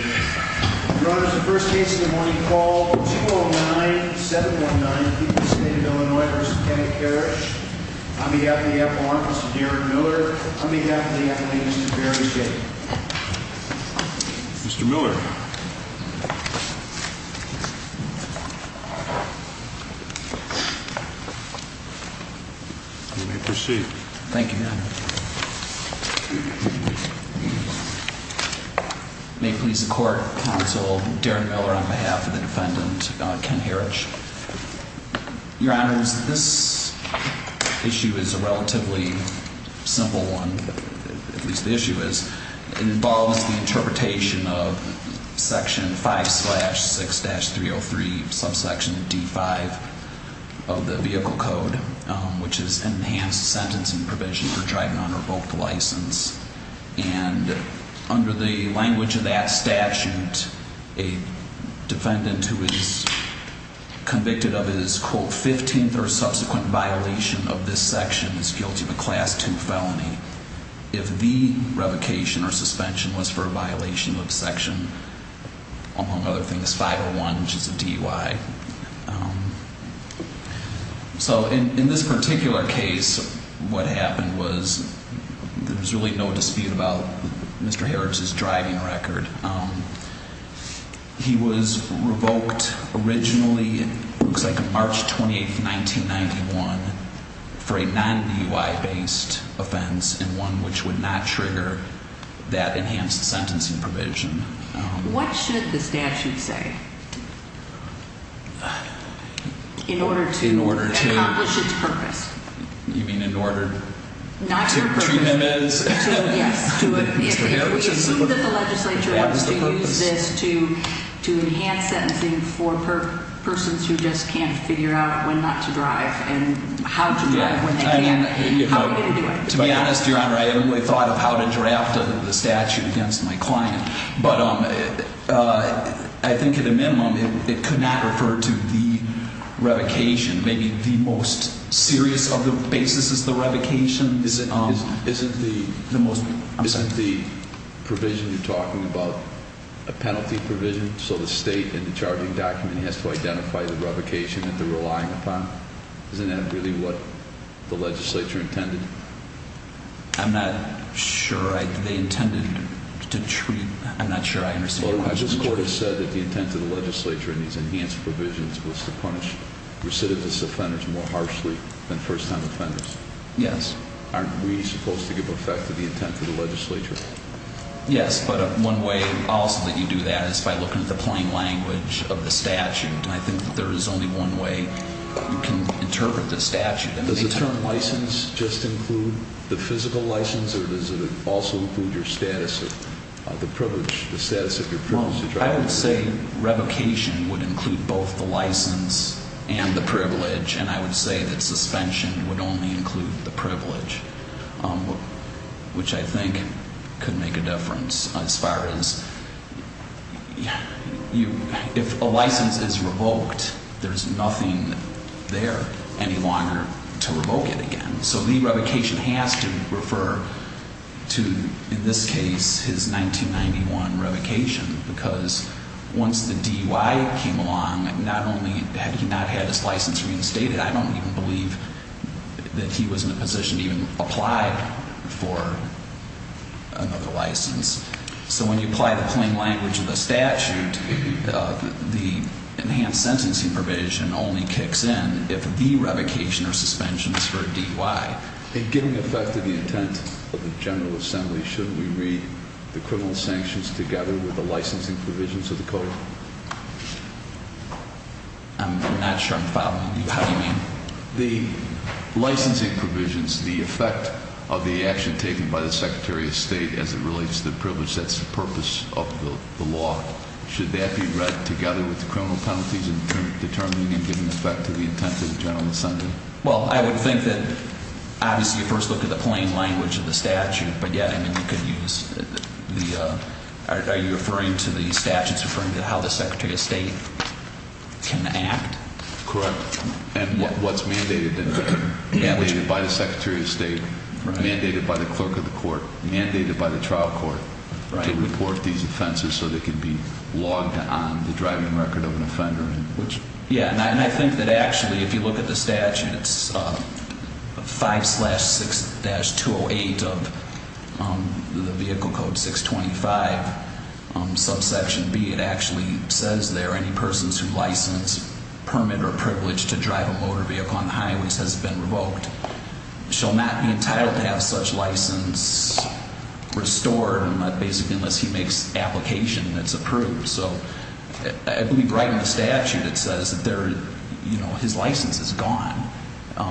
Your Honor, this is the first case in the morning called 209-719, Peoples State of Illinois v. Kenneth Heritsch. On behalf of the Appellant, Mr. Derrick Miller. On behalf of the Appellant, Mr. Barry Shady. Mr. Miller. You may proceed. Thank you, Your Honor. May it please the Court, Counsel Derrick Miller on behalf of the Defendant, Ken Heritsch. Your Honor, this issue is a relatively simple one, at least the issue is. It involves the interpretation of Section 5-6-303, subsection D-5 of the Vehicle Code, which is enhanced sentencing provision for driving under a revoked license. And under the language of that statute, a defendant who is convicted of his, quote, 15th or subsequent violation of this section is guilty of a Class 2 felony. If the revocation or suspension was for a violation of Section, among other things, 501, which is a DUI. So in this particular case, what happened was there was really no dispute about Mr. Heritsch's driving record. He was revoked originally, it looks like March 28th, 1991, for a non-DUI based offense and one which would not trigger that enhanced sentencing provision. What should the statute say? In order to accomplish its purpose. You mean in order to treat him as Mr. Heritsch? We assume that the legislature wants to use this to enhance sentencing for persons who just can't figure out when not to drive and how to drive when they can. How are we going to do it? To be honest, Your Honor, I haven't really thought of how to draft the statute against my client. But I think at a minimum, it could not refer to the revocation. Maybe the most serious of the basis is the revocation. Isn't the provision you're talking about a penalty provision? So the state in the charging document has to identify the revocation that they're relying upon? Isn't that really what the legislature intended? I'm not sure. They intended to treat... I'm not sure I understand your question. This court has said that the intent of the legislature in these enhanced provisions was to punish recidivist offenders more harshly than first-time offenders. Yes. Aren't we supposed to give effect to the intent of the legislature? Yes, but one way also that you do that is by looking at the plain language of the statute. And I think that there is only one way you can interpret the statute. Does the term license just include the physical license or does it also include your status of the privilege, the status of your privilege to drive? Well, I would say revocation would include both the license and the privilege. And I would say that suspension would only include the privilege, which I think could make a difference as far as... If a license is revoked, there's nothing there any longer to revoke it again. So the revocation has to refer to, in this case, his 1991 revocation because once the DUI came along, not only had he not had his license reinstated, I don't even believe that he was in a position to even apply for another license. So when you apply the plain language of the statute, the enhanced sentencing provision only kicks in if the revocation or suspension is for a DUI. In giving effect to the intent of the General Assembly, should we read the criminal sanctions together with the licensing provisions of the code? I'm not sure I'm following you. How do you mean? The licensing provisions, the effect of the action taken by the Secretary of State as it relates to the privilege, that's the purpose of the law. Should that be read together with the criminal penalties in determining and giving effect to the intent of the General Assembly? Well, I would think that, obviously, you first look at the plain language of the statute, but yet, I mean, you could use the... Are you referring to the statutes referring to how the Secretary of State can act? Correct. And what's mandated by the Secretary of State, mandated by the clerk of the court, mandated by the trial court, to report these offenses so they can be logged on the driving record of an offender. Yeah, and I think that, actually, if you look at the statute, it's 5-6-208 of the vehicle code 625, subsection B. It actually says there, any persons whose license, permit, or privilege to drive a motor vehicle on the highways has been revoked shall not be entitled to have such license restored unless he makes application and it's approved. So I believe right in the statute it says that his license is gone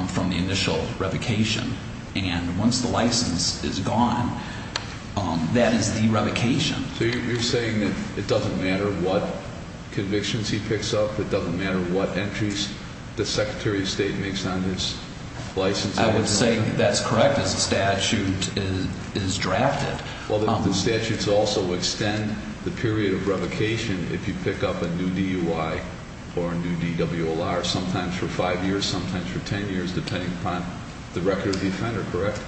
from the initial revocation. And once the license is gone, that is the revocation. So you're saying that it doesn't matter what convictions he picks up, it doesn't matter what entries the Secretary of State makes on his license? I would say that's correct as the statute is drafted. Well, the statutes also extend the period of revocation if you pick up a new DUI or a new DWLR, sometimes for 5 years, sometimes for 10 years, depending upon the record of the offender, correct?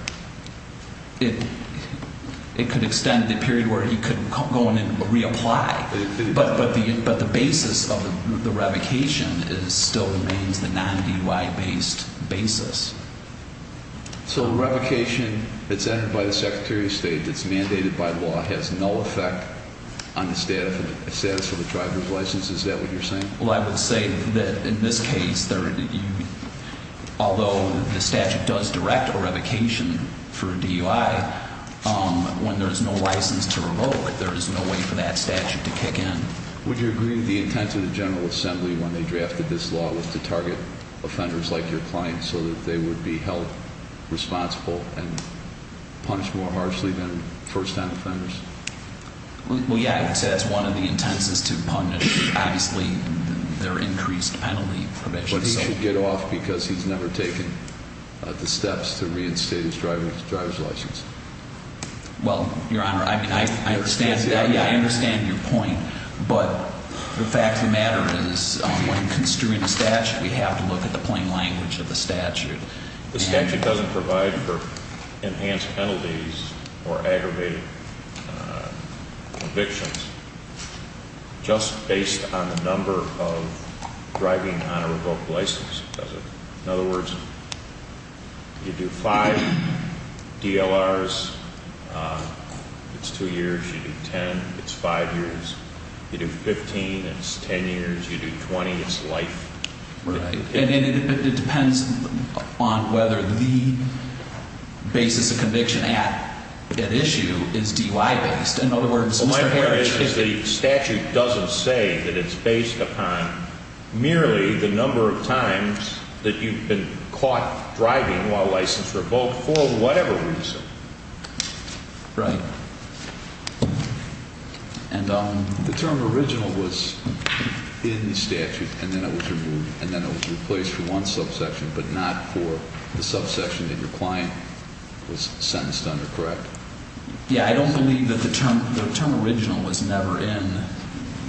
It could extend the period where he could go in and reapply. But the basis of the revocation still remains the non-DUI-based basis. So the revocation that's entered by the Secretary of State that's mandated by law has no effect on the status of the driver's license? Is that what you're saying? Well, I would say that in this case, although the statute does direct a revocation for a DUI, when there is no license to revoke, there is no way for that statute to kick in. Would you agree that the intent of the General Assembly when they drafted this law was to target offenders like your client so that they would be held responsible and punished more harshly than first-time offenders? Well, yeah, I would say that's one of the intents is to punish, obviously, their increased penalty provisions. But he should get off because he's never taken the steps to reinstate his driver's license. Well, Your Honor, I mean, I understand your point. But the fact of the matter is when construing a statute, we have to look at the plain language of the statute. The statute doesn't provide for enhanced penalties or aggravated convictions just based on the number of driving on a revoked license, does it? In other words, you do 5 DLRs, it's 2 years. You do 10, it's 5 years. You do 15, it's 10 years. You do 20, it's life. Right. And it depends on whether the basis of conviction at issue is DUI-based. In other words, Mr. Harris, if the statute doesn't say that it's based upon merely the number of times that you've been caught driving while license revoked for whatever reason. Right. And the term original was in the statute and then it was removed. And then it was replaced for one subsection, but not for the subsection that your client was sentenced under, correct? Yeah, I don't believe that the term original was never in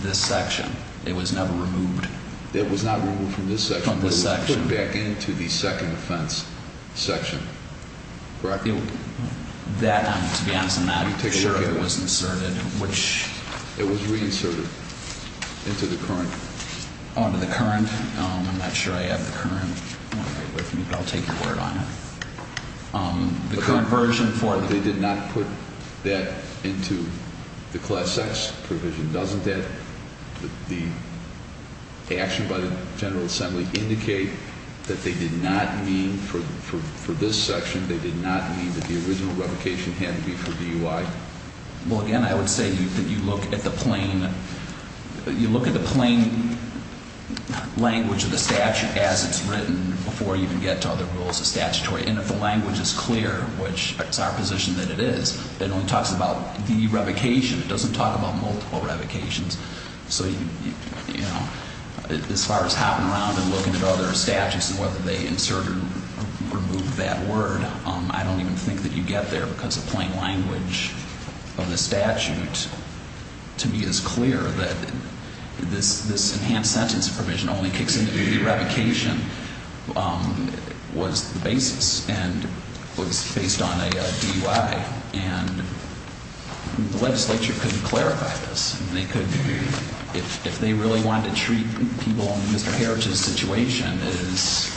this section. It was never removed. It was not removed from this section, but it was put back into the second offense section, correct? That, to be honest, I'm not sure it was inserted. It was reinserted into the current. Oh, into the current. I'm not sure I have the current. I'll take your word on it. The current version for it. They did not put that into the Class X provision, doesn't that? The action by the General Assembly indicate that they did not mean for this section, they did not mean that the original revocation had to be for DUI? Well, again, I would say that you look at the plain language of the statute as it's written before you can get to other rules of statutory. And if the language is clear, which it's our position that it is, it only talks about the revocation. It doesn't talk about multiple revocations. So, you know, as far as hopping around and looking at other statutes and whether they insert or remove that word, I don't even think that you get there because the plain language of the statute, to me, is clear that this enhanced sentence provision only kicks into the revocation was the basis and was based on a DUI. And the legislature couldn't clarify this. They couldn't. If they really wanted to treat people in Mr. Heritage's situation as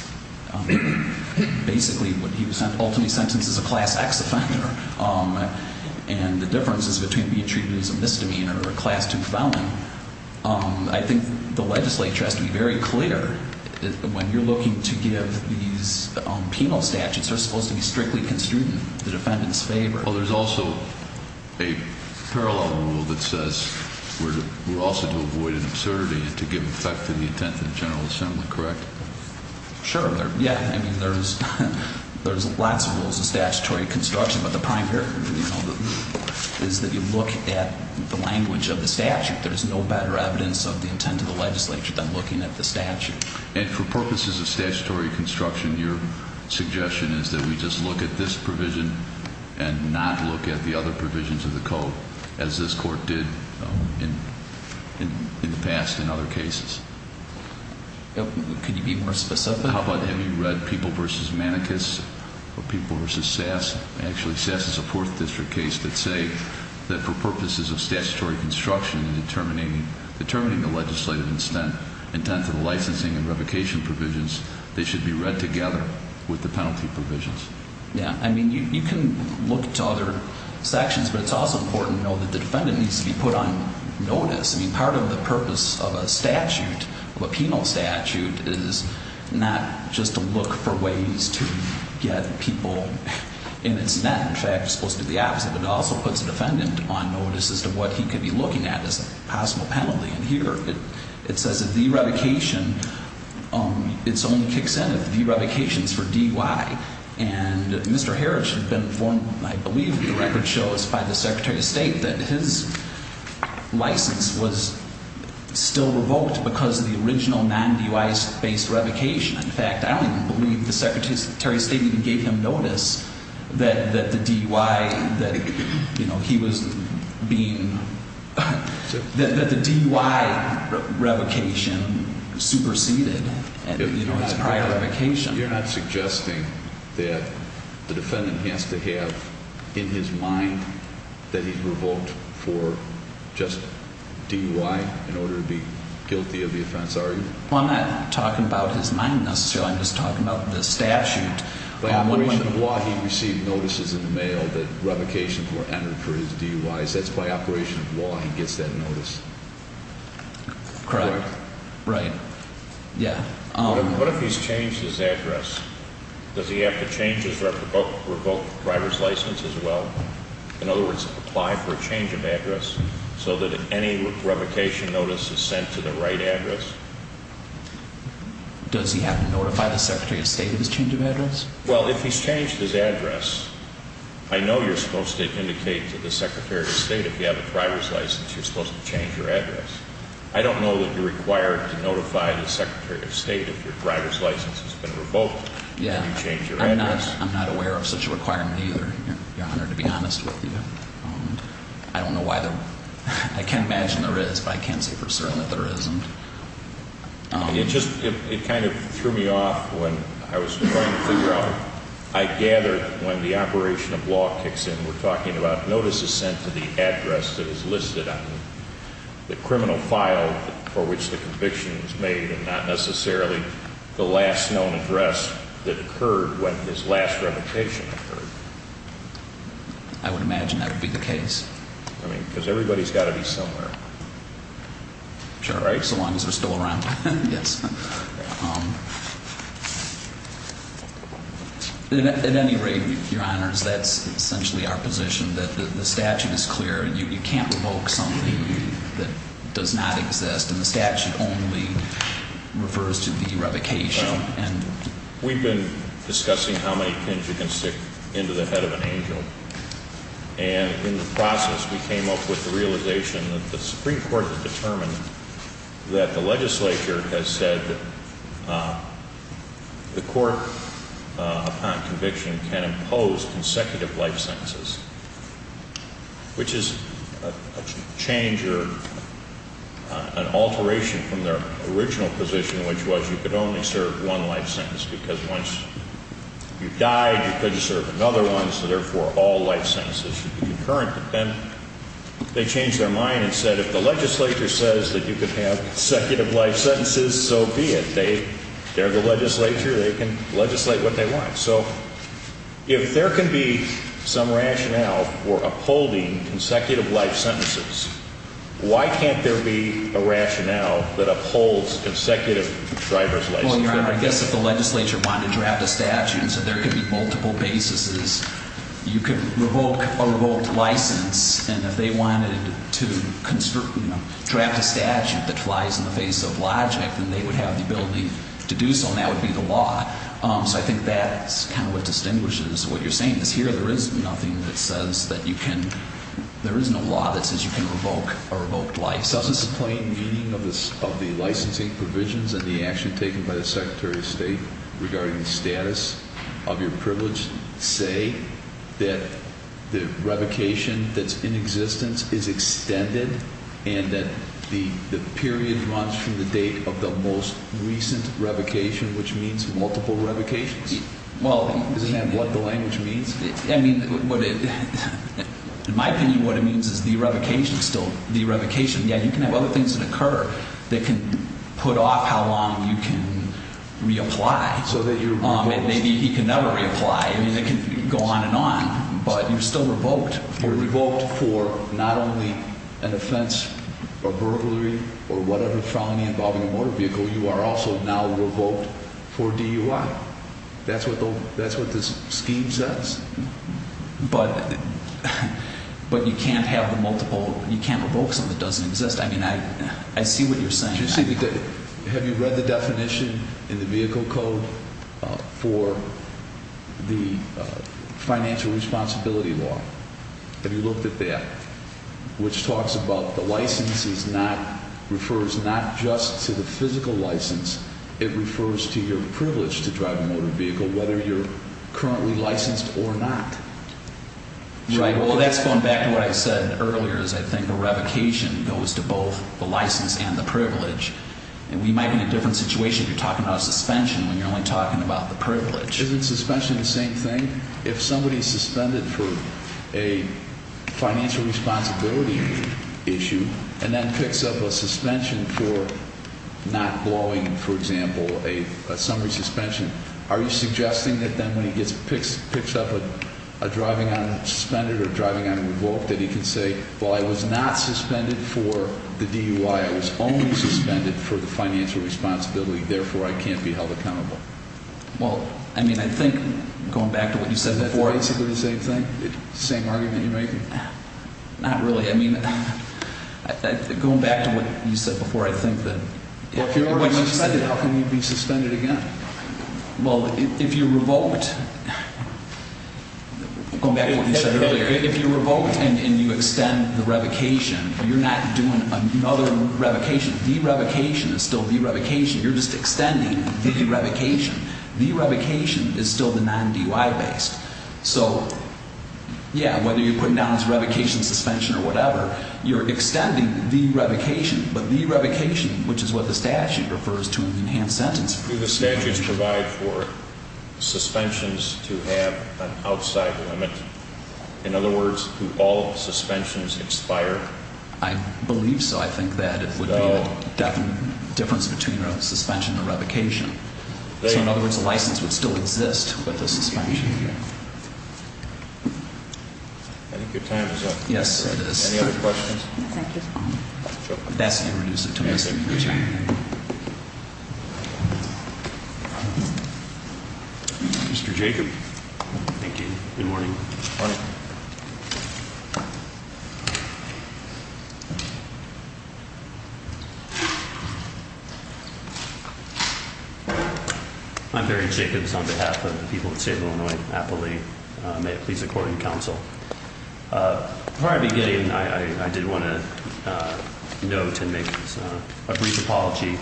basically what he was ultimately sentenced as a Class X offender and the differences between being treated as a misdemeanor or a Class II felon, I think the legislature has to be very clear that when you're looking to give these penal statutes, they're supposed to be strictly construed in the defendant's favor. Well, there's also a parallel rule that says we're also to avoid an absurdity and to give effect to the intent of the General Assembly. Correct? Sure. Yeah. I mean, there's lots of rules of statutory construction, but the primary is that you look at the language of the statute. There is no better evidence of the intent of the legislature than looking at the statute. And for purposes of statutory construction, your suggestion is that we just look at this provision and not look at the other provisions of the code, as this Court did in the past in other cases? Could you be more specific? How about have you read People v. Manicus or People v. Sass? Actually, Sass is a Fourth District case that say that for purposes of statutory construction and determining the legislative intent for the licensing and revocation provisions, they should be read together with the penalty provisions. Yeah. I mean, you can look to other sections, but it's also important to know that the defendant needs to be put on notice. I mean, part of the purpose of a statute, of a penal statute, is not just to look for ways to get people in its net. In fact, it's supposed to do the opposite. It also puts a defendant on notice as to what he could be looking at as a possible penalty. And here, it says that the revocation, it only kicks in if the revocation is for D-Y. And Mr. Harris had been informed, I believe the record shows, by the Secretary of State that his license was still revoked because of the original non-D-Y based revocation. In fact, I don't even believe the Secretary of State even gave him notice that the D-Y, that he was being, that the D-Y revocation superseded his prior revocation. You're not suggesting that the defendant has to have in his mind that he's revoked for just D-Y in order to be guilty of the offense, are you? Well, I'm not talking about his mind necessarily. I'm just talking about the statute. By operation of law, he received notices in the mail that revocations were entered for his D-Ys. That's by operation of law he gets that notice. Correct. Right. Yeah. What if he's changed his address? Does he have to change his revoked driver's license as well? In other words, apply for a change of address so that any revocation notice is sent to the right address? Does he have to notify the Secretary of State of his change of address? Well, if he's changed his address, I know you're supposed to indicate to the Secretary of State if you have a driver's license you're supposed to change your address. I don't know that you're required to notify the Secretary of State if your driver's license has been revoked. Yeah. And you change your address. I'm not aware of such a requirement either, Your Honor, to be honest with you. I don't know why the – I can imagine there is, but I can't say for certain that there isn't. It just – it kind of threw me off when I was trying to figure out – I gather when the operation of law kicks in, we're talking about notices sent to the address that is listed on the criminal file for which the conviction is made and not necessarily the last known address that occurred when this last revocation occurred. I would imagine that would be the case. I mean, because everybody's got to be somewhere. Sure. Right? So long as they're still around. Yes. At any rate, Your Honors, that's essentially our position, that the statute is clear and you can't revoke something that does not exist. And the statute only refers to the revocation. We've been discussing how many pins you can stick into the head of an angel. And in the process, we came up with the realization that the Supreme Court had determined that the legislature has said that the court, upon conviction, can impose consecutive life sentences, which is a change or an alteration from their original position, which was you could only serve one life sentence because once you died, you couldn't serve another one, so therefore all life sentences should be concurrent. And they changed their mind and said if the legislature says that you can have consecutive life sentences, so be it. They're the legislature. They can legislate what they want. So if there can be some rationale for upholding consecutive life sentences, why can't there be a rationale that upholds consecutive driver's licenses? Well, Your Honor, I guess if the legislature wanted to draft a statute so there could be multiple basis, you could revoke a revoked license, and if they wanted to draft a statute that flies in the face of logic, then they would have the ability to do so, and that would be the law. So I think that's kind of what distinguishes what you're saying, is here there is nothing that says that you can, there is no law that says you can revoke a revoked license. Doesn't the plain meaning of the licensing provisions and the action taken by the Secretary of State regarding the status of your privilege say that the revocation that's in existence is extended and that the period runs from the date of the most recent revocation, which means multiple revocations? Isn't that what the language means? I mean, in my opinion, what it means is the revocation is still the revocation. Yeah, you can have other things that occur that can put off how long you can reapply. So that you're revoked. And maybe he can never reapply. I mean, it can go on and on, but you're still revoked. You're revoked for not only an offense or burglary or whatever felony involving a motor vehicle, you are also now revoked for DUI. That's what the scheme says? But you can't have the multiple, you can't revoke something that doesn't exist. I mean, I see what you're saying. Have you read the definition in the vehicle code for the financial responsibility law? Have you looked at that? Which talks about the license is not, refers not just to the physical license, it refers to your privilege to drive a motor vehicle, whether you're currently licensed or not. Right. Well, that's going back to what I said earlier is I think a revocation goes to both the license and the privilege. And we might be in a different situation if you're talking about a suspension when you're only talking about the privilege. Isn't suspension the same thing? If somebody is suspended for a financial responsibility issue and then picks up a suspension for not blowing, for example, a summary suspension, are you suggesting that then when he picks up a driving on suspended or driving on revoked, that he can say, well, I was not suspended for the DUI. I was only suspended for the financial responsibility. Therefore, I can't be held accountable. Well, I mean, I think going back to what you said before. Is that basically the same thing, same argument you're making? Not really. I mean, going back to what you said before, I think that. Well, if you're already suspended, how can you be suspended again? Well, if you're revoked, going back to what you said earlier, if you're revoked and you extend the revocation, you're not doing another revocation, derevocation is still derevocation. You're just extending derevocation. Derevocation is still the non-DUI based. So, yeah, whether you're putting down this revocation suspension or whatever, you're extending derevocation. But derevocation, which is what the statute refers to in the enhanced sentence. Do the statutes provide for suspensions to have an outside limit? In other words, do all suspensions expire? I believe so. I think that it would be the difference between a suspension and a revocation. So, in other words, a license would still exist with a suspension. I think your time is up. Yes, it is. Any other questions? Thank you. That's irreducible. Mr. Jacob. Thank you. Good morning. Morning. I'm Barry Jacobs on behalf of the people of the state of Illinois. May it please the court and counsel. From the beginning, I did want to note and make a brief apology.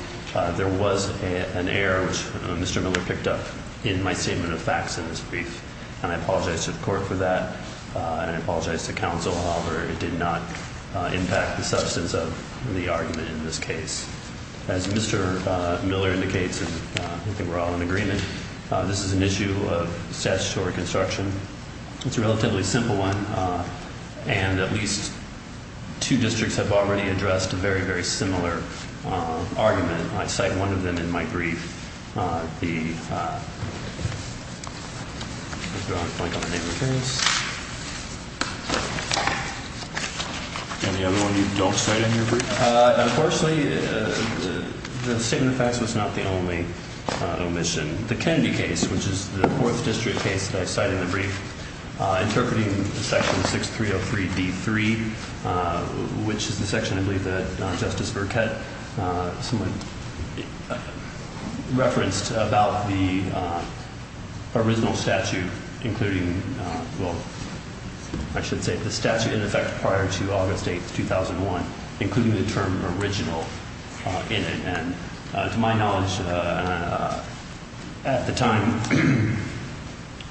There was an error, which Mr. Miller picked up in my statement of facts in his brief, and I apologize to the court for that. And I apologize to counsel. However, it did not impact the substance of the argument in this case. As Mr. Miller indicates, and I think we're all in agreement, this is an issue of statutory construction. It's a relatively simple one. And at least two districts have already addressed a very, very similar argument. I cite one of them in my brief. The other one you don't cite in your brief? Unfortunately, the statement of facts was not the only omission. The Kennedy case, which is the fourth district case that I cite in the brief, interpreting section 6303D3, which is the section, I believe, that Justice Burke had somewhat referenced about the original statute, including, well, I should say the statute in effect prior to August 8, 2001, including the term original in it. And to my knowledge, at the time,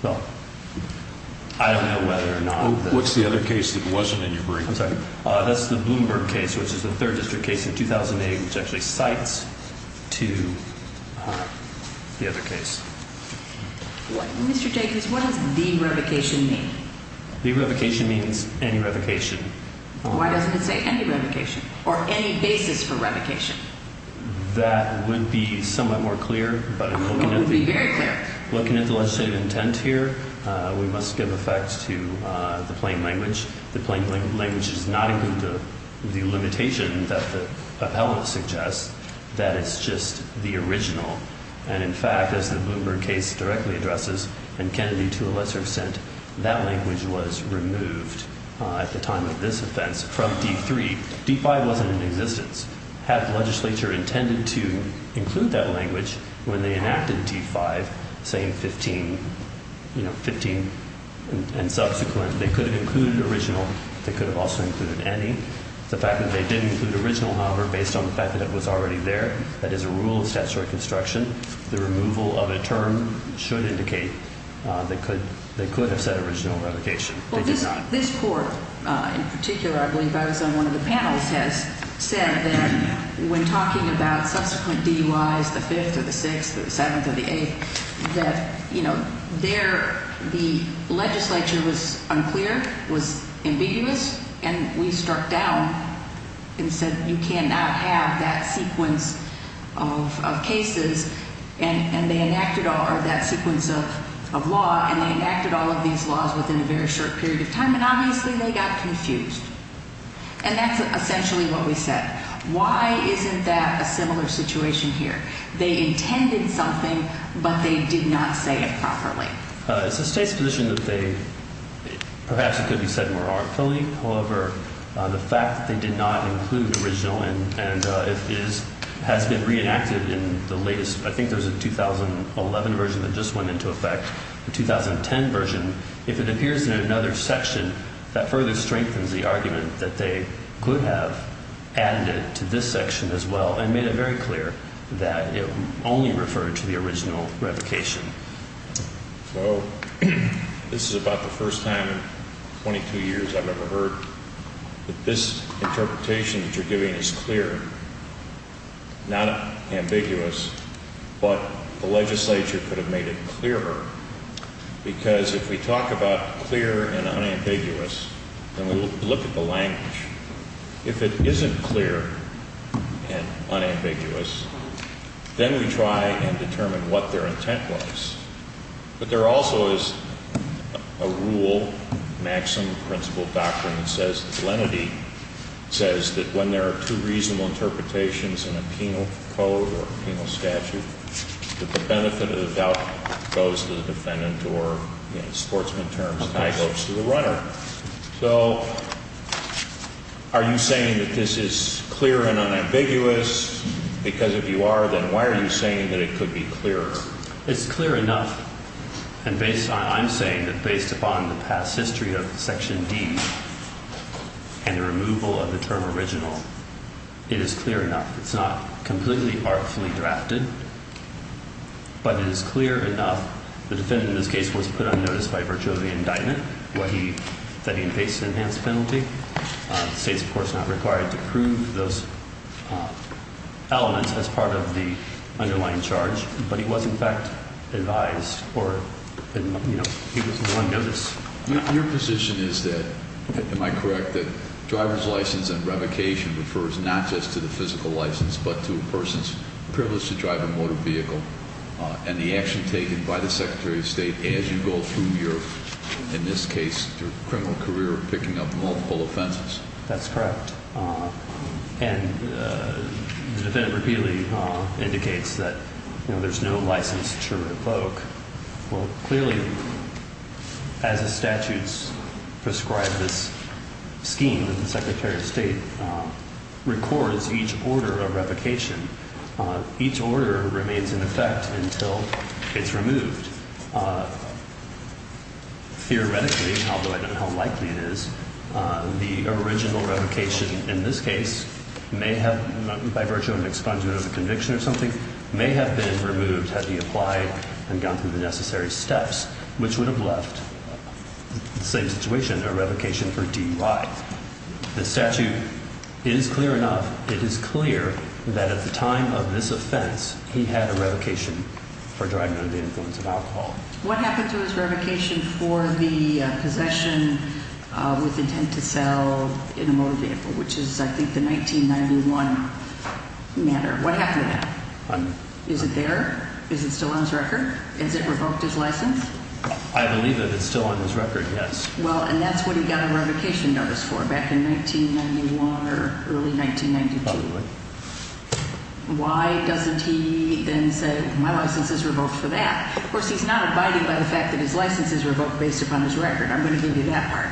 well, I don't know whether or not this What's the other case that wasn't in your brief? I'm sorry? That's the Bloomberg case, which is the third district case in 2008, which actually cites the other case. Mr. Jacobs, what does derevocation mean? Derevocation means any revocation. Why doesn't it say any revocation or any basis for revocation? That would be somewhat more clear. It would be very clear. Looking at the legislative intent here, we must give effect to the plain language. The plain language does not include the limitation that the appellant suggests, that it's just the original. And, in fact, as the Bloomberg case directly addresses, and Kennedy to a lesser extent, that language was removed at the time of this offense from D3. D5 wasn't in existence. Had the legislature intended to include that language when they enacted D5, saying 15 and subsequent, they could have included original. They could have also included any. The fact that they did include original, however, based on the fact that it was already there, that is a rule of statutory construction. The removal of a term should indicate they could have said original revocation. Well, this court in particular, I believe I was on one of the panels, has said that when talking about subsequent DUIs, the 5th or the 6th or the 7th or the 8th, that, you know, there the legislature was unclear, was ambiguous, and we struck down and said you cannot have that sequence of cases. And they enacted that sequence of law, and they enacted all of these laws within a very short period of time, and obviously they got confused. And that's essentially what we said. Why isn't that a similar situation here? They intended something, but they did not say it properly. It's the state's position that perhaps it could be said more arbitrarily. However, the fact that they did not include original and it has been reenacted in the latest, I think there was a 2011 version that just went into effect, the 2010 version, if it appears in another section, that further strengthens the argument that they could have added it to this section as well and made it very clear that it only referred to the original revocation. So this is about the first time in 22 years I've ever heard that this interpretation that you're giving is clear, not ambiguous, but the legislature could have made it clearer because if we talk about clear and unambiguous and we look at the language, if it isn't clear and unambiguous, then we try and determine what their intent was. But there also is a rule, maximum principle doctrine that says, the lenity says that when there are two reasonable interpretations in a penal code or penal statute, that the benefit of the doubt goes to the defendant or in sportsman terms, the tie goes to the runner. So are you saying that this is clear and unambiguous? Because if you are, then why are you saying that it could be clearer? It's clear enough. And based on I'm saying that based upon the past history of Section D and the removal of the term original, it is clear enough. It's not completely artfully drafted, but it is clear enough. The defendant in this case was put on notice by virtue of the indictment that he faced an enhanced penalty. The state's of course not required to prove those elements as part of the underlying charge, but he was in fact advised or he was on notice. Your position is that, am I correct, that driver's license and revocation refers not just to the physical license, but to a person's privilege to drive a motor vehicle and the action taken by the Secretary of State as you go through your, in this case, criminal career of picking up multiple offenses? That's correct. And the defendant repeatedly indicates that there's no license to revoke. Well, clearly as the statutes prescribe this scheme, the Secretary of State records each order of revocation. Each order remains in effect until it's removed. Theoretically, although I don't know how likely it is, the original revocation in this case may have, by virtue of an expungement of a conviction or something, may have been removed had he applied and gone through the necessary steps, which would have left the same situation, a revocation for DUI. The statute is clear enough. It is clear that at the time of this offense, he had a revocation for driving under the influence of alcohol. What happened to his revocation for the possession with intent to sell in a motor vehicle, which is, I think, the 1991 matter? What happened to that? Is it there? Is it still on his record? Is it revoked, his license? I believe that it's still on his record, yes. Well, and that's what he got a revocation notice for back in 1991 or early 1992. Probably would. Why doesn't he then say, my license is revoked for that? Of course, he's not abiding by the fact that his license is revoked based upon his record. I'm going to give you that part.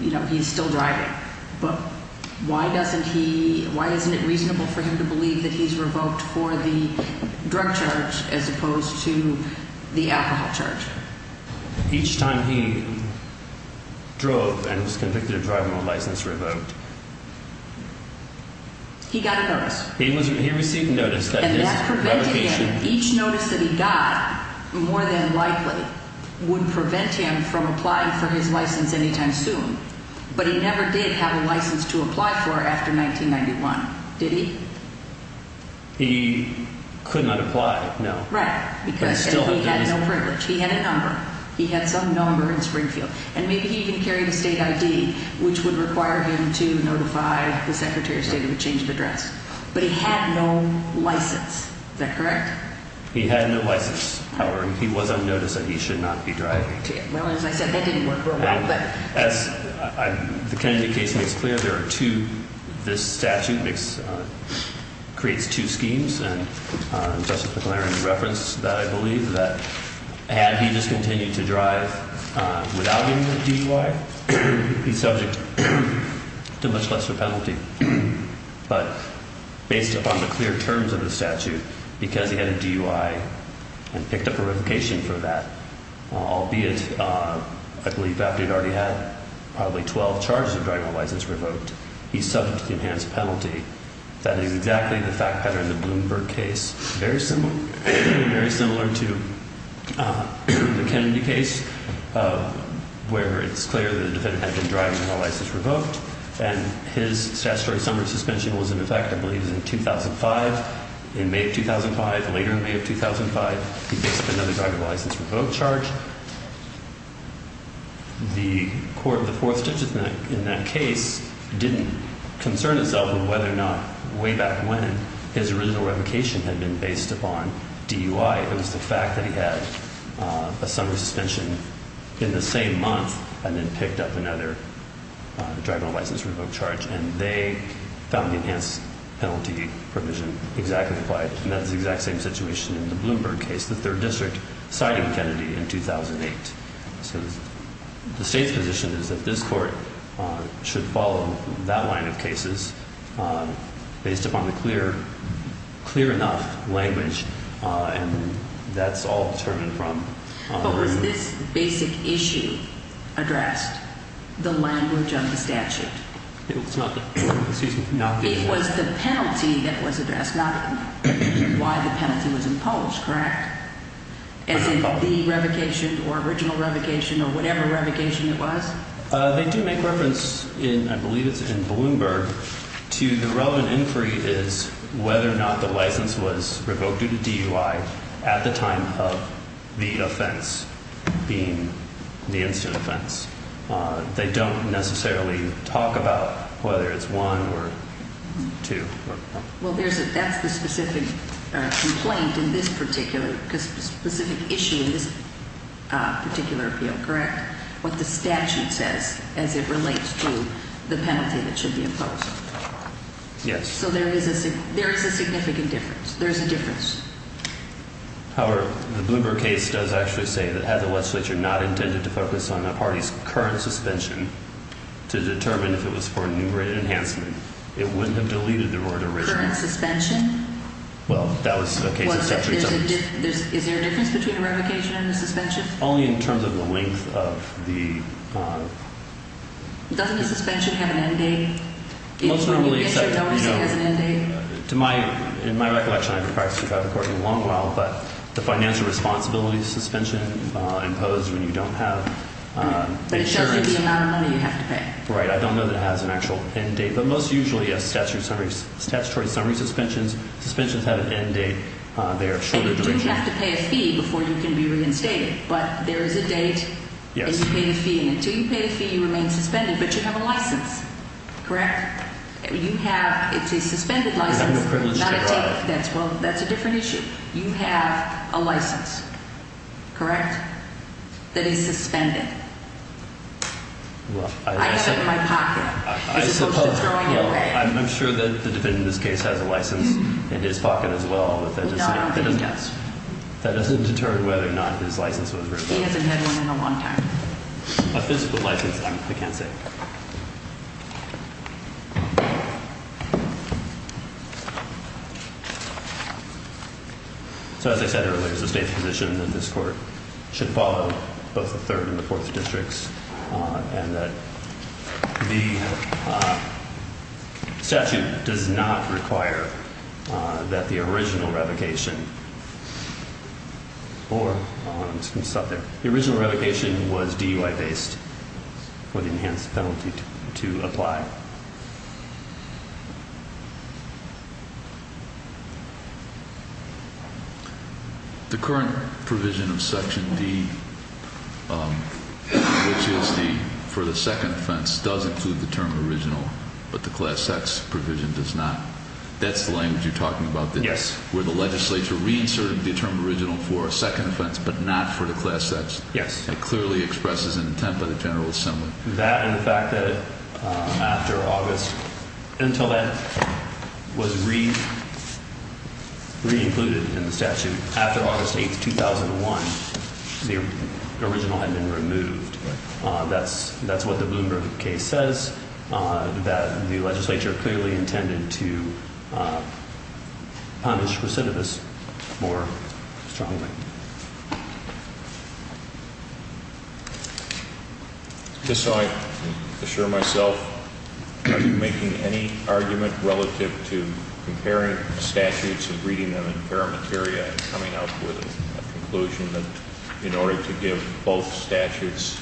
You know, he's still driving. But why doesn't he, why isn't it reasonable for him to believe that he's revoked for the drug charge as opposed to the alcohol charge? Each time he drove and was convicted of driving with a license revoked. He got a notice. He received notice that his revocation. Each notice that he got, more than likely, would prevent him from applying for his license anytime soon. But he never did have a license to apply for after 1991, did he? He could not apply, no. Right, because he had no privilege. He had a number. He had some number in Springfield. And maybe he even carried a state ID, which would require him to notify the Secretary of State of the change of address. But he had no license. Is that correct? He had no license. However, he was on notice that he should not be driving. Well, as I said, that didn't work very well. As the Kennedy case makes clear, there are two, this statute makes, creates two schemes. And Justice McLaren referenced that, I believe, that had he discontinued to drive without getting a DUI, he's subject to a much lesser penalty. But based upon the clear terms of the statute, because he had a DUI and picked up a revocation for that, albeit, I believe, after he'd already had probably 12 charges of driving without a license revoked, he's subject to the enhanced penalty. That is exactly the fact pattern in the Bloomberg case. Very similar to the Kennedy case, where it's clear that the defendant had been driving without a license revoked. And his statutory summer suspension was in effect, I believe, in 2005. In May of 2005, later in May of 2005, he picked up another driver license revoked charge. The court of the Fourth Digit in that case didn't concern itself with whether or not way back when his original revocation had been based upon DUI. It was the fact that he had a summer suspension in the same month and then picked up another driver license revoked charge. And they found the enhanced penalty provision exactly applied. And that's the exact same situation in the Bloomberg case, the Third District, citing Kennedy in 2008. The state's position is that this court should follow that line of cases based upon the clear, clear enough language. And that's all determined from. But was this basic issue addressed, the language of the statute? It was not. It was the penalty that was addressed, not why the penalty was imposed, correct? As in the revocation or original revocation or whatever revocation it was? They do make reference in, I believe it's in Bloomberg, to the relevant inquiry is whether or not the license was revoked due to DUI at the time of the offense being the incident offense. They don't necessarily talk about whether it's one or two. Well, there's a that's the specific complaint in this particular specific issue in this particular field, correct? What the statute says as it relates to the penalty that should be imposed. Yes. So there is a there is a significant difference. There's a difference. However, the Bloomberg case does actually say that had the legislature not intended to focus on the party's current suspension to determine if it was for enumerated enhancement, it wouldn't have deleted the word original suspension. Well, that was the case. Is there a difference between a revocation and a suspension only in terms of the length of the. Doesn't the suspension have an end date? Most normally. It has an end date. To my in my recollection, I've been practicing traffic for a long while, but the financial responsibility suspension imposed when you don't have insurance. The amount of money you have to pay. Right. I don't know that it has an actual end date, but most usually a statute summary, statutory summary suspensions, suspensions have an end date. You have to pay a fee before you can be reinstated. But there is a date. Yes. Until you pay the fee, you remain suspended, but you have a license. Correct. You have a suspended license. That's well, that's a different issue. You have a license. Correct. That is suspended. Well, I have it in my pocket. I suppose I'm sure that the defendant in this case has a license in his pocket as well. No, he doesn't. That doesn't deter whether or not his license was written. He hasn't had one in a long time. A physical license, I can't say. So, as I said earlier, it's the state's position that this court should follow both the third and the fourth districts and that the statute does not require that the original revocation or I'm just going to stop there. The original revocation was DUI based for the enhanced penalty to apply. The current provision of Section D, which is for the second offense, does include the term original, but the class sex provision does not. That's the language you're talking about? Yes. Where the legislature reinserted the term original for a second offense, but not for the class sex. Yes. It clearly expresses an intent by the General Assembly. That and the fact that after August, until that was re-included in the statute, after August 8th, 2001, the original had been removed. That's what the Bloomberg case says, that the legislature clearly intended to punish recidivists more strongly. Just so I can assure myself, are you making any argument relative to comparing statutes and reading them in parameteria and coming up with a conclusion that in order to give both statutes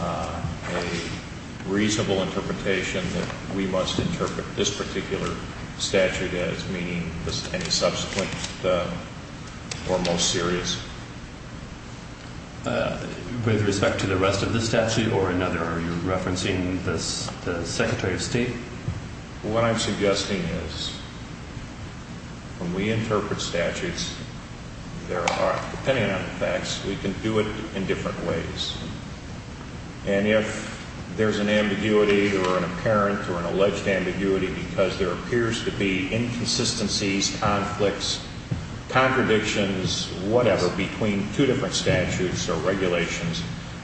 a reasonable interpretation, that we must interpret this particular statute as meaning any subsequent or most serious? With respect to the rest of the statute or another, are you referencing the Secretary of State? What I'm suggesting is when we interpret statutes, depending on the facts, we can do it in different ways. And if there's an ambiguity or an apparent or an alleged ambiguity because there appears to be inconsistencies, conflicts, contradictions, whatever, between two different statutes or regulations,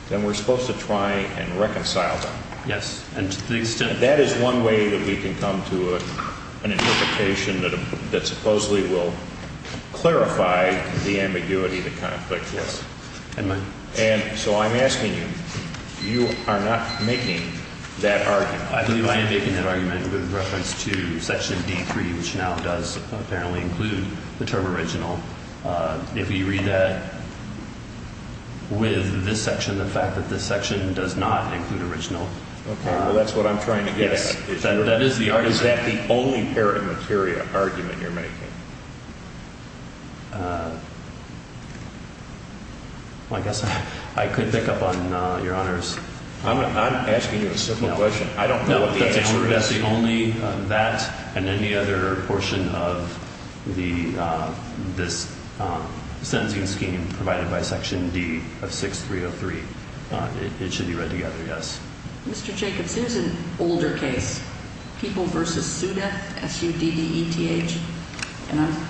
then we're supposed to try and reconcile them. Yes. That is one way that we can come to an interpretation that supposedly will clarify the ambiguity of the conflict. Yes. And so I'm asking you, you are not making that argument. I believe I am making that argument with reference to Section D.3, which now does apparently include the term original. If you read that with this section, the fact that this section does not include original. Okay. Well, that's what I'm trying to get at. Yes. Is that the only parameteria argument you're making? Well, I guess I could pick up on Your Honors. I'm asking you a simple question. No. I don't know what the answer is. That's the only that and any other portion of this sentencing scheme provided by Section D of 6303. It should be read together, yes. Mr. Jacobs, here's an older case, People v. Sudeth, S-U-D-E-T-H.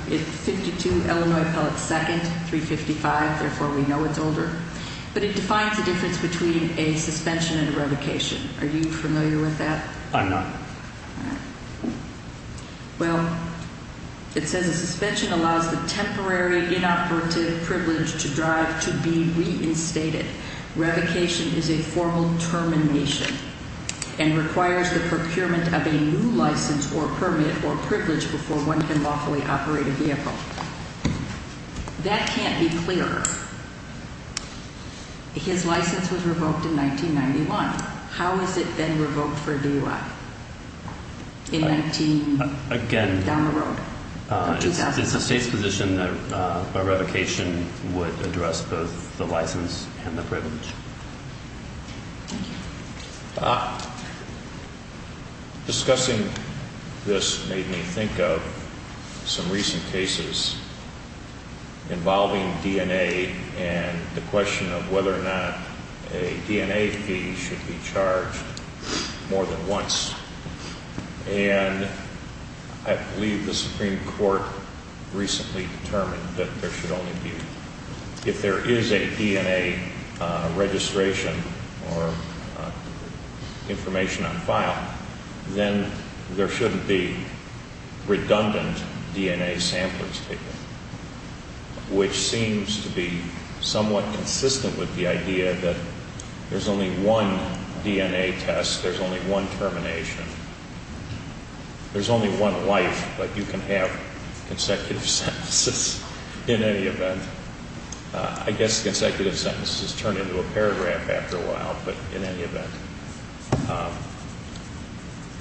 It's 52 Illinois Pellet Second, 355. Therefore, we know it's older. But it defines the difference between a suspension and a revocation. Are you familiar with that? I'm not. All right. Well, it says a suspension allows the temporary inoperative privilege to drive to be reinstated. Revocation is a formal termination and requires the procurement of a new license or permit or privilege before one can lawfully operate a vehicle. That can't be clearer. His license was revoked in 1991. How has it been revoked for DUI? Again, it's the state's position that a revocation would address both the license and the privilege. Thank you. Discussing this made me think of some recent cases involving DNA and the question of whether or not a DNA fee should be charged more than once. And I believe the Supreme Court recently determined that there should only be, if there is a DNA registration or information on file, then there shouldn't be redundant DNA samples taken, which seems to be somewhat consistent with the idea that there's only one DNA test, there's only one termination, there's only one life, but you can have consecutive sentences in any event. I guess consecutive sentences turn into a paragraph after a while, but in any event.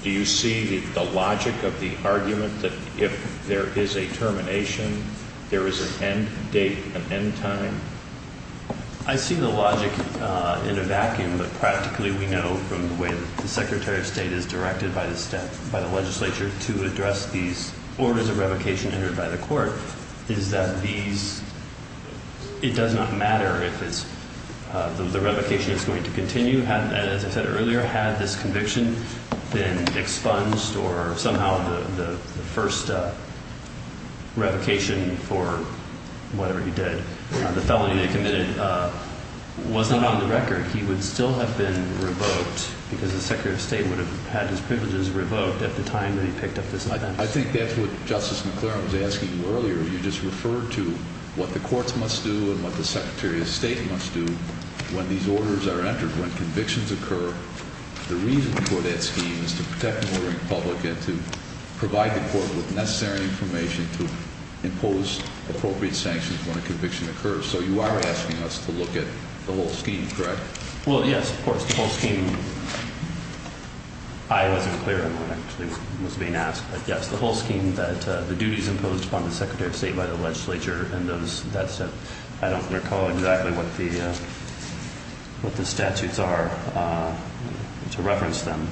Do you see the logic of the argument that if there is a termination, there is an end date, an end time? I see the logic in a vacuum, but practically we know from the way that the Secretary of State is directed by the legislature to address these orders of revocation entered by the court, is that it does not matter if the revocation is going to continue. As I said earlier, had this conviction been expunged or somehow the first revocation for whatever he did, the felony they committed was not on the record, he would still have been revoked because the Secretary of State would have had his privileges revoked at the time that he picked up this offense. I think that's what Justice McClaren was asking earlier. You just referred to what the courts must do and what the Secretary of State must do when these orders are entered, when convictions occur. The reason for that scheme is to protect the order in public and to provide the court with necessary information to impose appropriate sanctions when a conviction occurs. So you are asking us to look at the whole scheme, correct? Well, yes, of course, the whole scheme. I wasn't clear on what actually was being asked, but yes, the whole scheme that the duties imposed upon the Secretary of State by the legislature and I don't recall exactly what the statutes are to reference them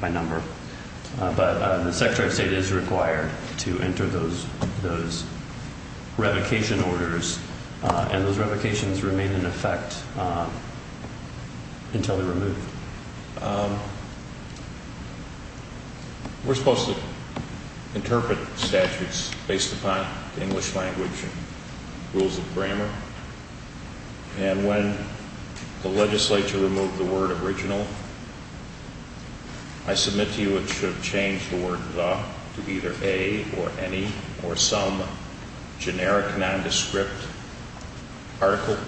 by number, but the Secretary of State is required to enter those revocation orders and those revocations remain in effect until they're removed. We're supposed to interpret statutes based upon English language and rules of grammar and when the legislature removed the word original, I submit to you it should have changed the word the to either a or any or some generic nondescript article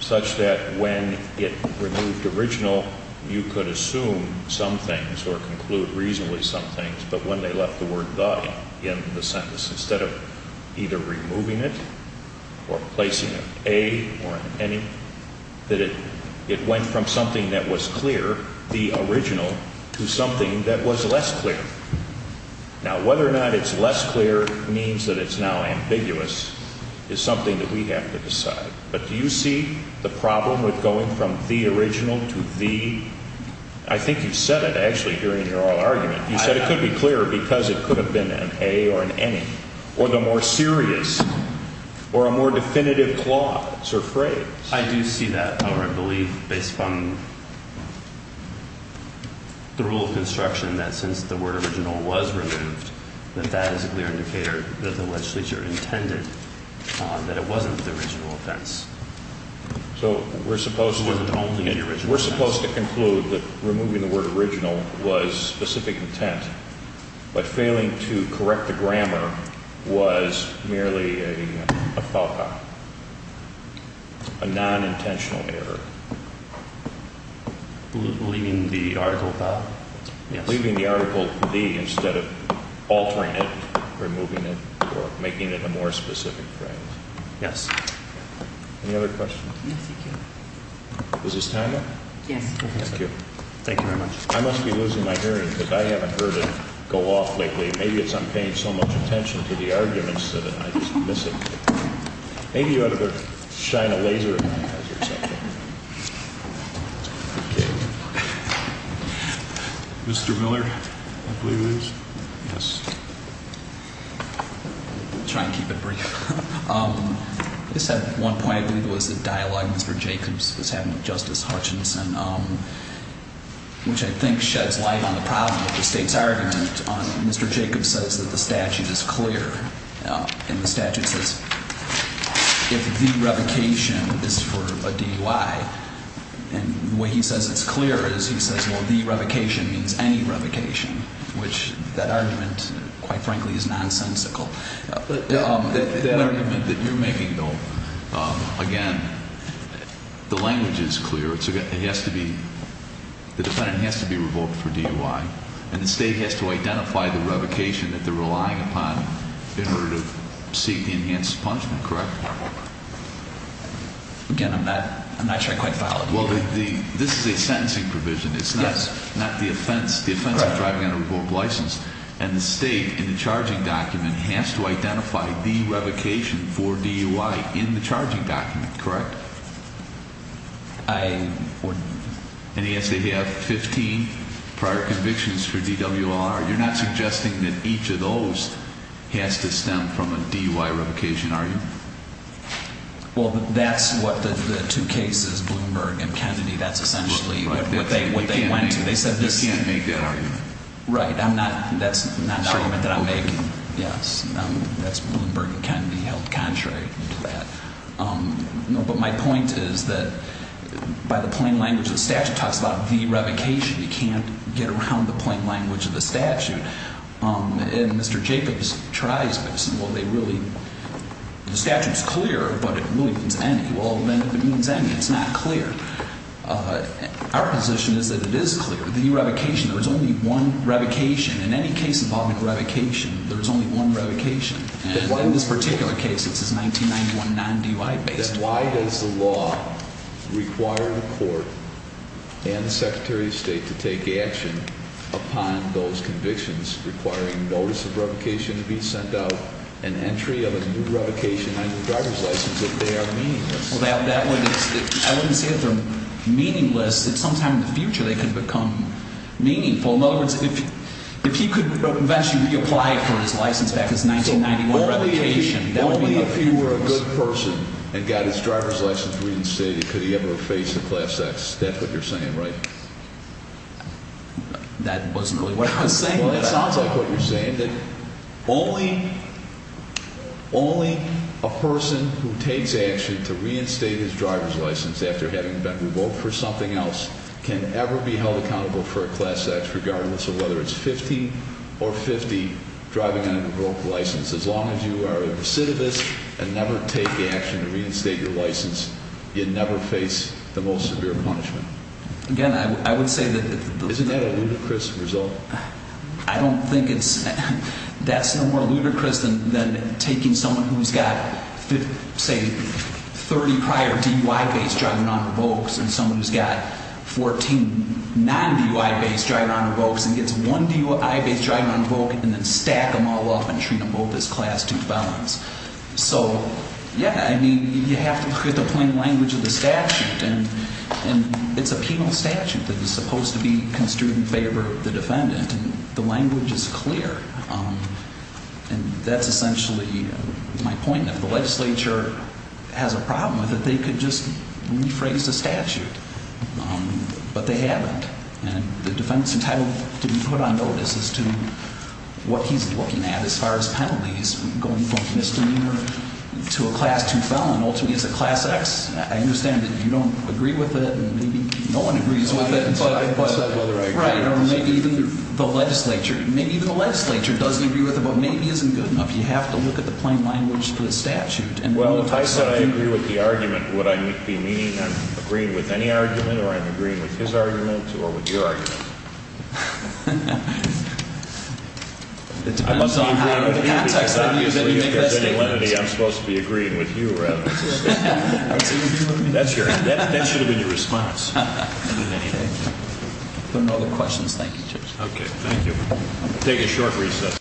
such that when it removed original, you could assume some things or conclude reasonably some things, but when they left the word the in the sentence, instead of either removing it or placing it a or any, that it went from something that was clear, the original, to something that was less clear. Now, whether or not it's less clear means that it's now ambiguous is something that we have to decide, but do you see the problem with going from the original to the? I think you said it actually during your oral argument. You said it could be clearer because it could have been an a or an any or the more serious or a more definitive clause or phrase. I do see that or I believe based on the rule of construction that since the word original was removed, that that is a clear indicator that the legislature intended that it wasn't the original offense. So we're supposed to conclude that removing the word original was specific intent, but failing to correct the grammar was merely a nonintentional error. Leaving the article the instead of altering it, removing it or making it a more specific phrase. Yes. Any other questions? Yes, thank you. Is this time up? Yes. Thank you. Thank you very much. I must be losing my hearing because I haven't heard it go off lately. Maybe it's I'm paying so much attention to the arguments that I just miss it. Maybe you ought to shine a laser in my eyes or something. Mr. Miller, I believe it is. I'll try and keep it brief. I just have one point. I believe it was the dialogue Mr. Jacobs was having with Justice Hutchinson, which I think sheds light on the problem of the state's argument. Mr. Jacobs says that the statute is clear, and the statute says if the revocation is for a DUI, and the way he says it's clear is he says, well, the revocation means any revocation, which that argument, quite frankly, is nonsensical. That argument that you're making, though, again, the language is clear. It has to be the defendant has to be revoked for DUI, and the state has to identify the revocation that they're relying upon in order to seek the enhanced punishment, correct? Again, I'm not sure I quite followed. Well, this is a sentencing provision. It's not the offense of driving under a revoked license, and the state, in the charging document, has to identify the revocation for DUI in the charging document, correct? And he has to have 15 prior convictions for DWLR. You're not suggesting that each of those has to stem from a DUI revocation, are you? Well, that's what the two cases, Bloomberg and Kennedy, that's essentially what they went to. You can't make that argument. Right. That's not an argument that I'm making. Yes. That's Bloomberg and Kennedy held contrary to that. But my point is that by the plain language of the statute, it talks about the revocation. You can't get around the plain language of the statute. And Mr. Jacobs tries this, and, well, they really, the statute's clear, but it really means any. Well, then if it means any, it's not clear. Our position is that it is clear. But the revocation, there was only one revocation. In any case involving revocation, there was only one revocation. And in this particular case, this is 1991, non-DUI-based. Then why does the law require the court and the Secretary of State to take action upon those convictions requiring notice of revocation to be sent out and entry of a new revocation under the driver's license if they are meaningless? Well, that would – I wouldn't say that they're meaningless. At some time in the future, they can become meaningful. In other words, if he could eventually reapply for his license back as 1991 revocation, that would be a difference. So only if he were a good person and got his driver's license reinstated could he ever face a class act. That's what you're saying, right? That wasn't really what I was saying. Well, that sounds like what you're saying, that only a person who takes action to reinstate his driver's license after having been revoked for something else can ever be held accountable for a class act, regardless of whether it's 50 or 50 driving on a revoked license. As long as you are a recidivist and never take action to reinstate your license, you never face the most severe punishment. Again, I would say that the – I don't think it's – that's no more ludicrous than taking someone who's got, say, 30 prior DUI-based driving on revokes and someone who's got 14 non-DUI-based driving on revokes and gets one DUI-based driving on revoke and then stack them all up and treat them both as class 2 felons. So, yeah, I mean, you have to – you have to play in the language of the statute. And it's a penal statute that is supposed to be construed in favor of the defendant, and the language is clear. And that's essentially my point. If the legislature has a problem with it, they could just rephrase the statute. But they haven't. And the defendant's entitled to be put on notice as to what he's looking at as far as penalties, going from misdemeanor to a class 2 felon, ultimately as a class X. I understand that you don't agree with it, and maybe no one agrees with it. I said whether I agree with it. Right. Or maybe even the legislature. Maybe even the legislature doesn't agree with it, but maybe isn't good enough. You have to look at the plain language of the statute. Well, if I said I agree with the argument, would I be meaning I'm agreeing with any argument, or I'm agreeing with his argument, or with your argument? It depends on the context on which you make that statement. I'm supposed to be agreeing with you, rather. That should have been your response. If there are no other questions, thank you, Judge. Okay. Thank you. We'll take a short recess.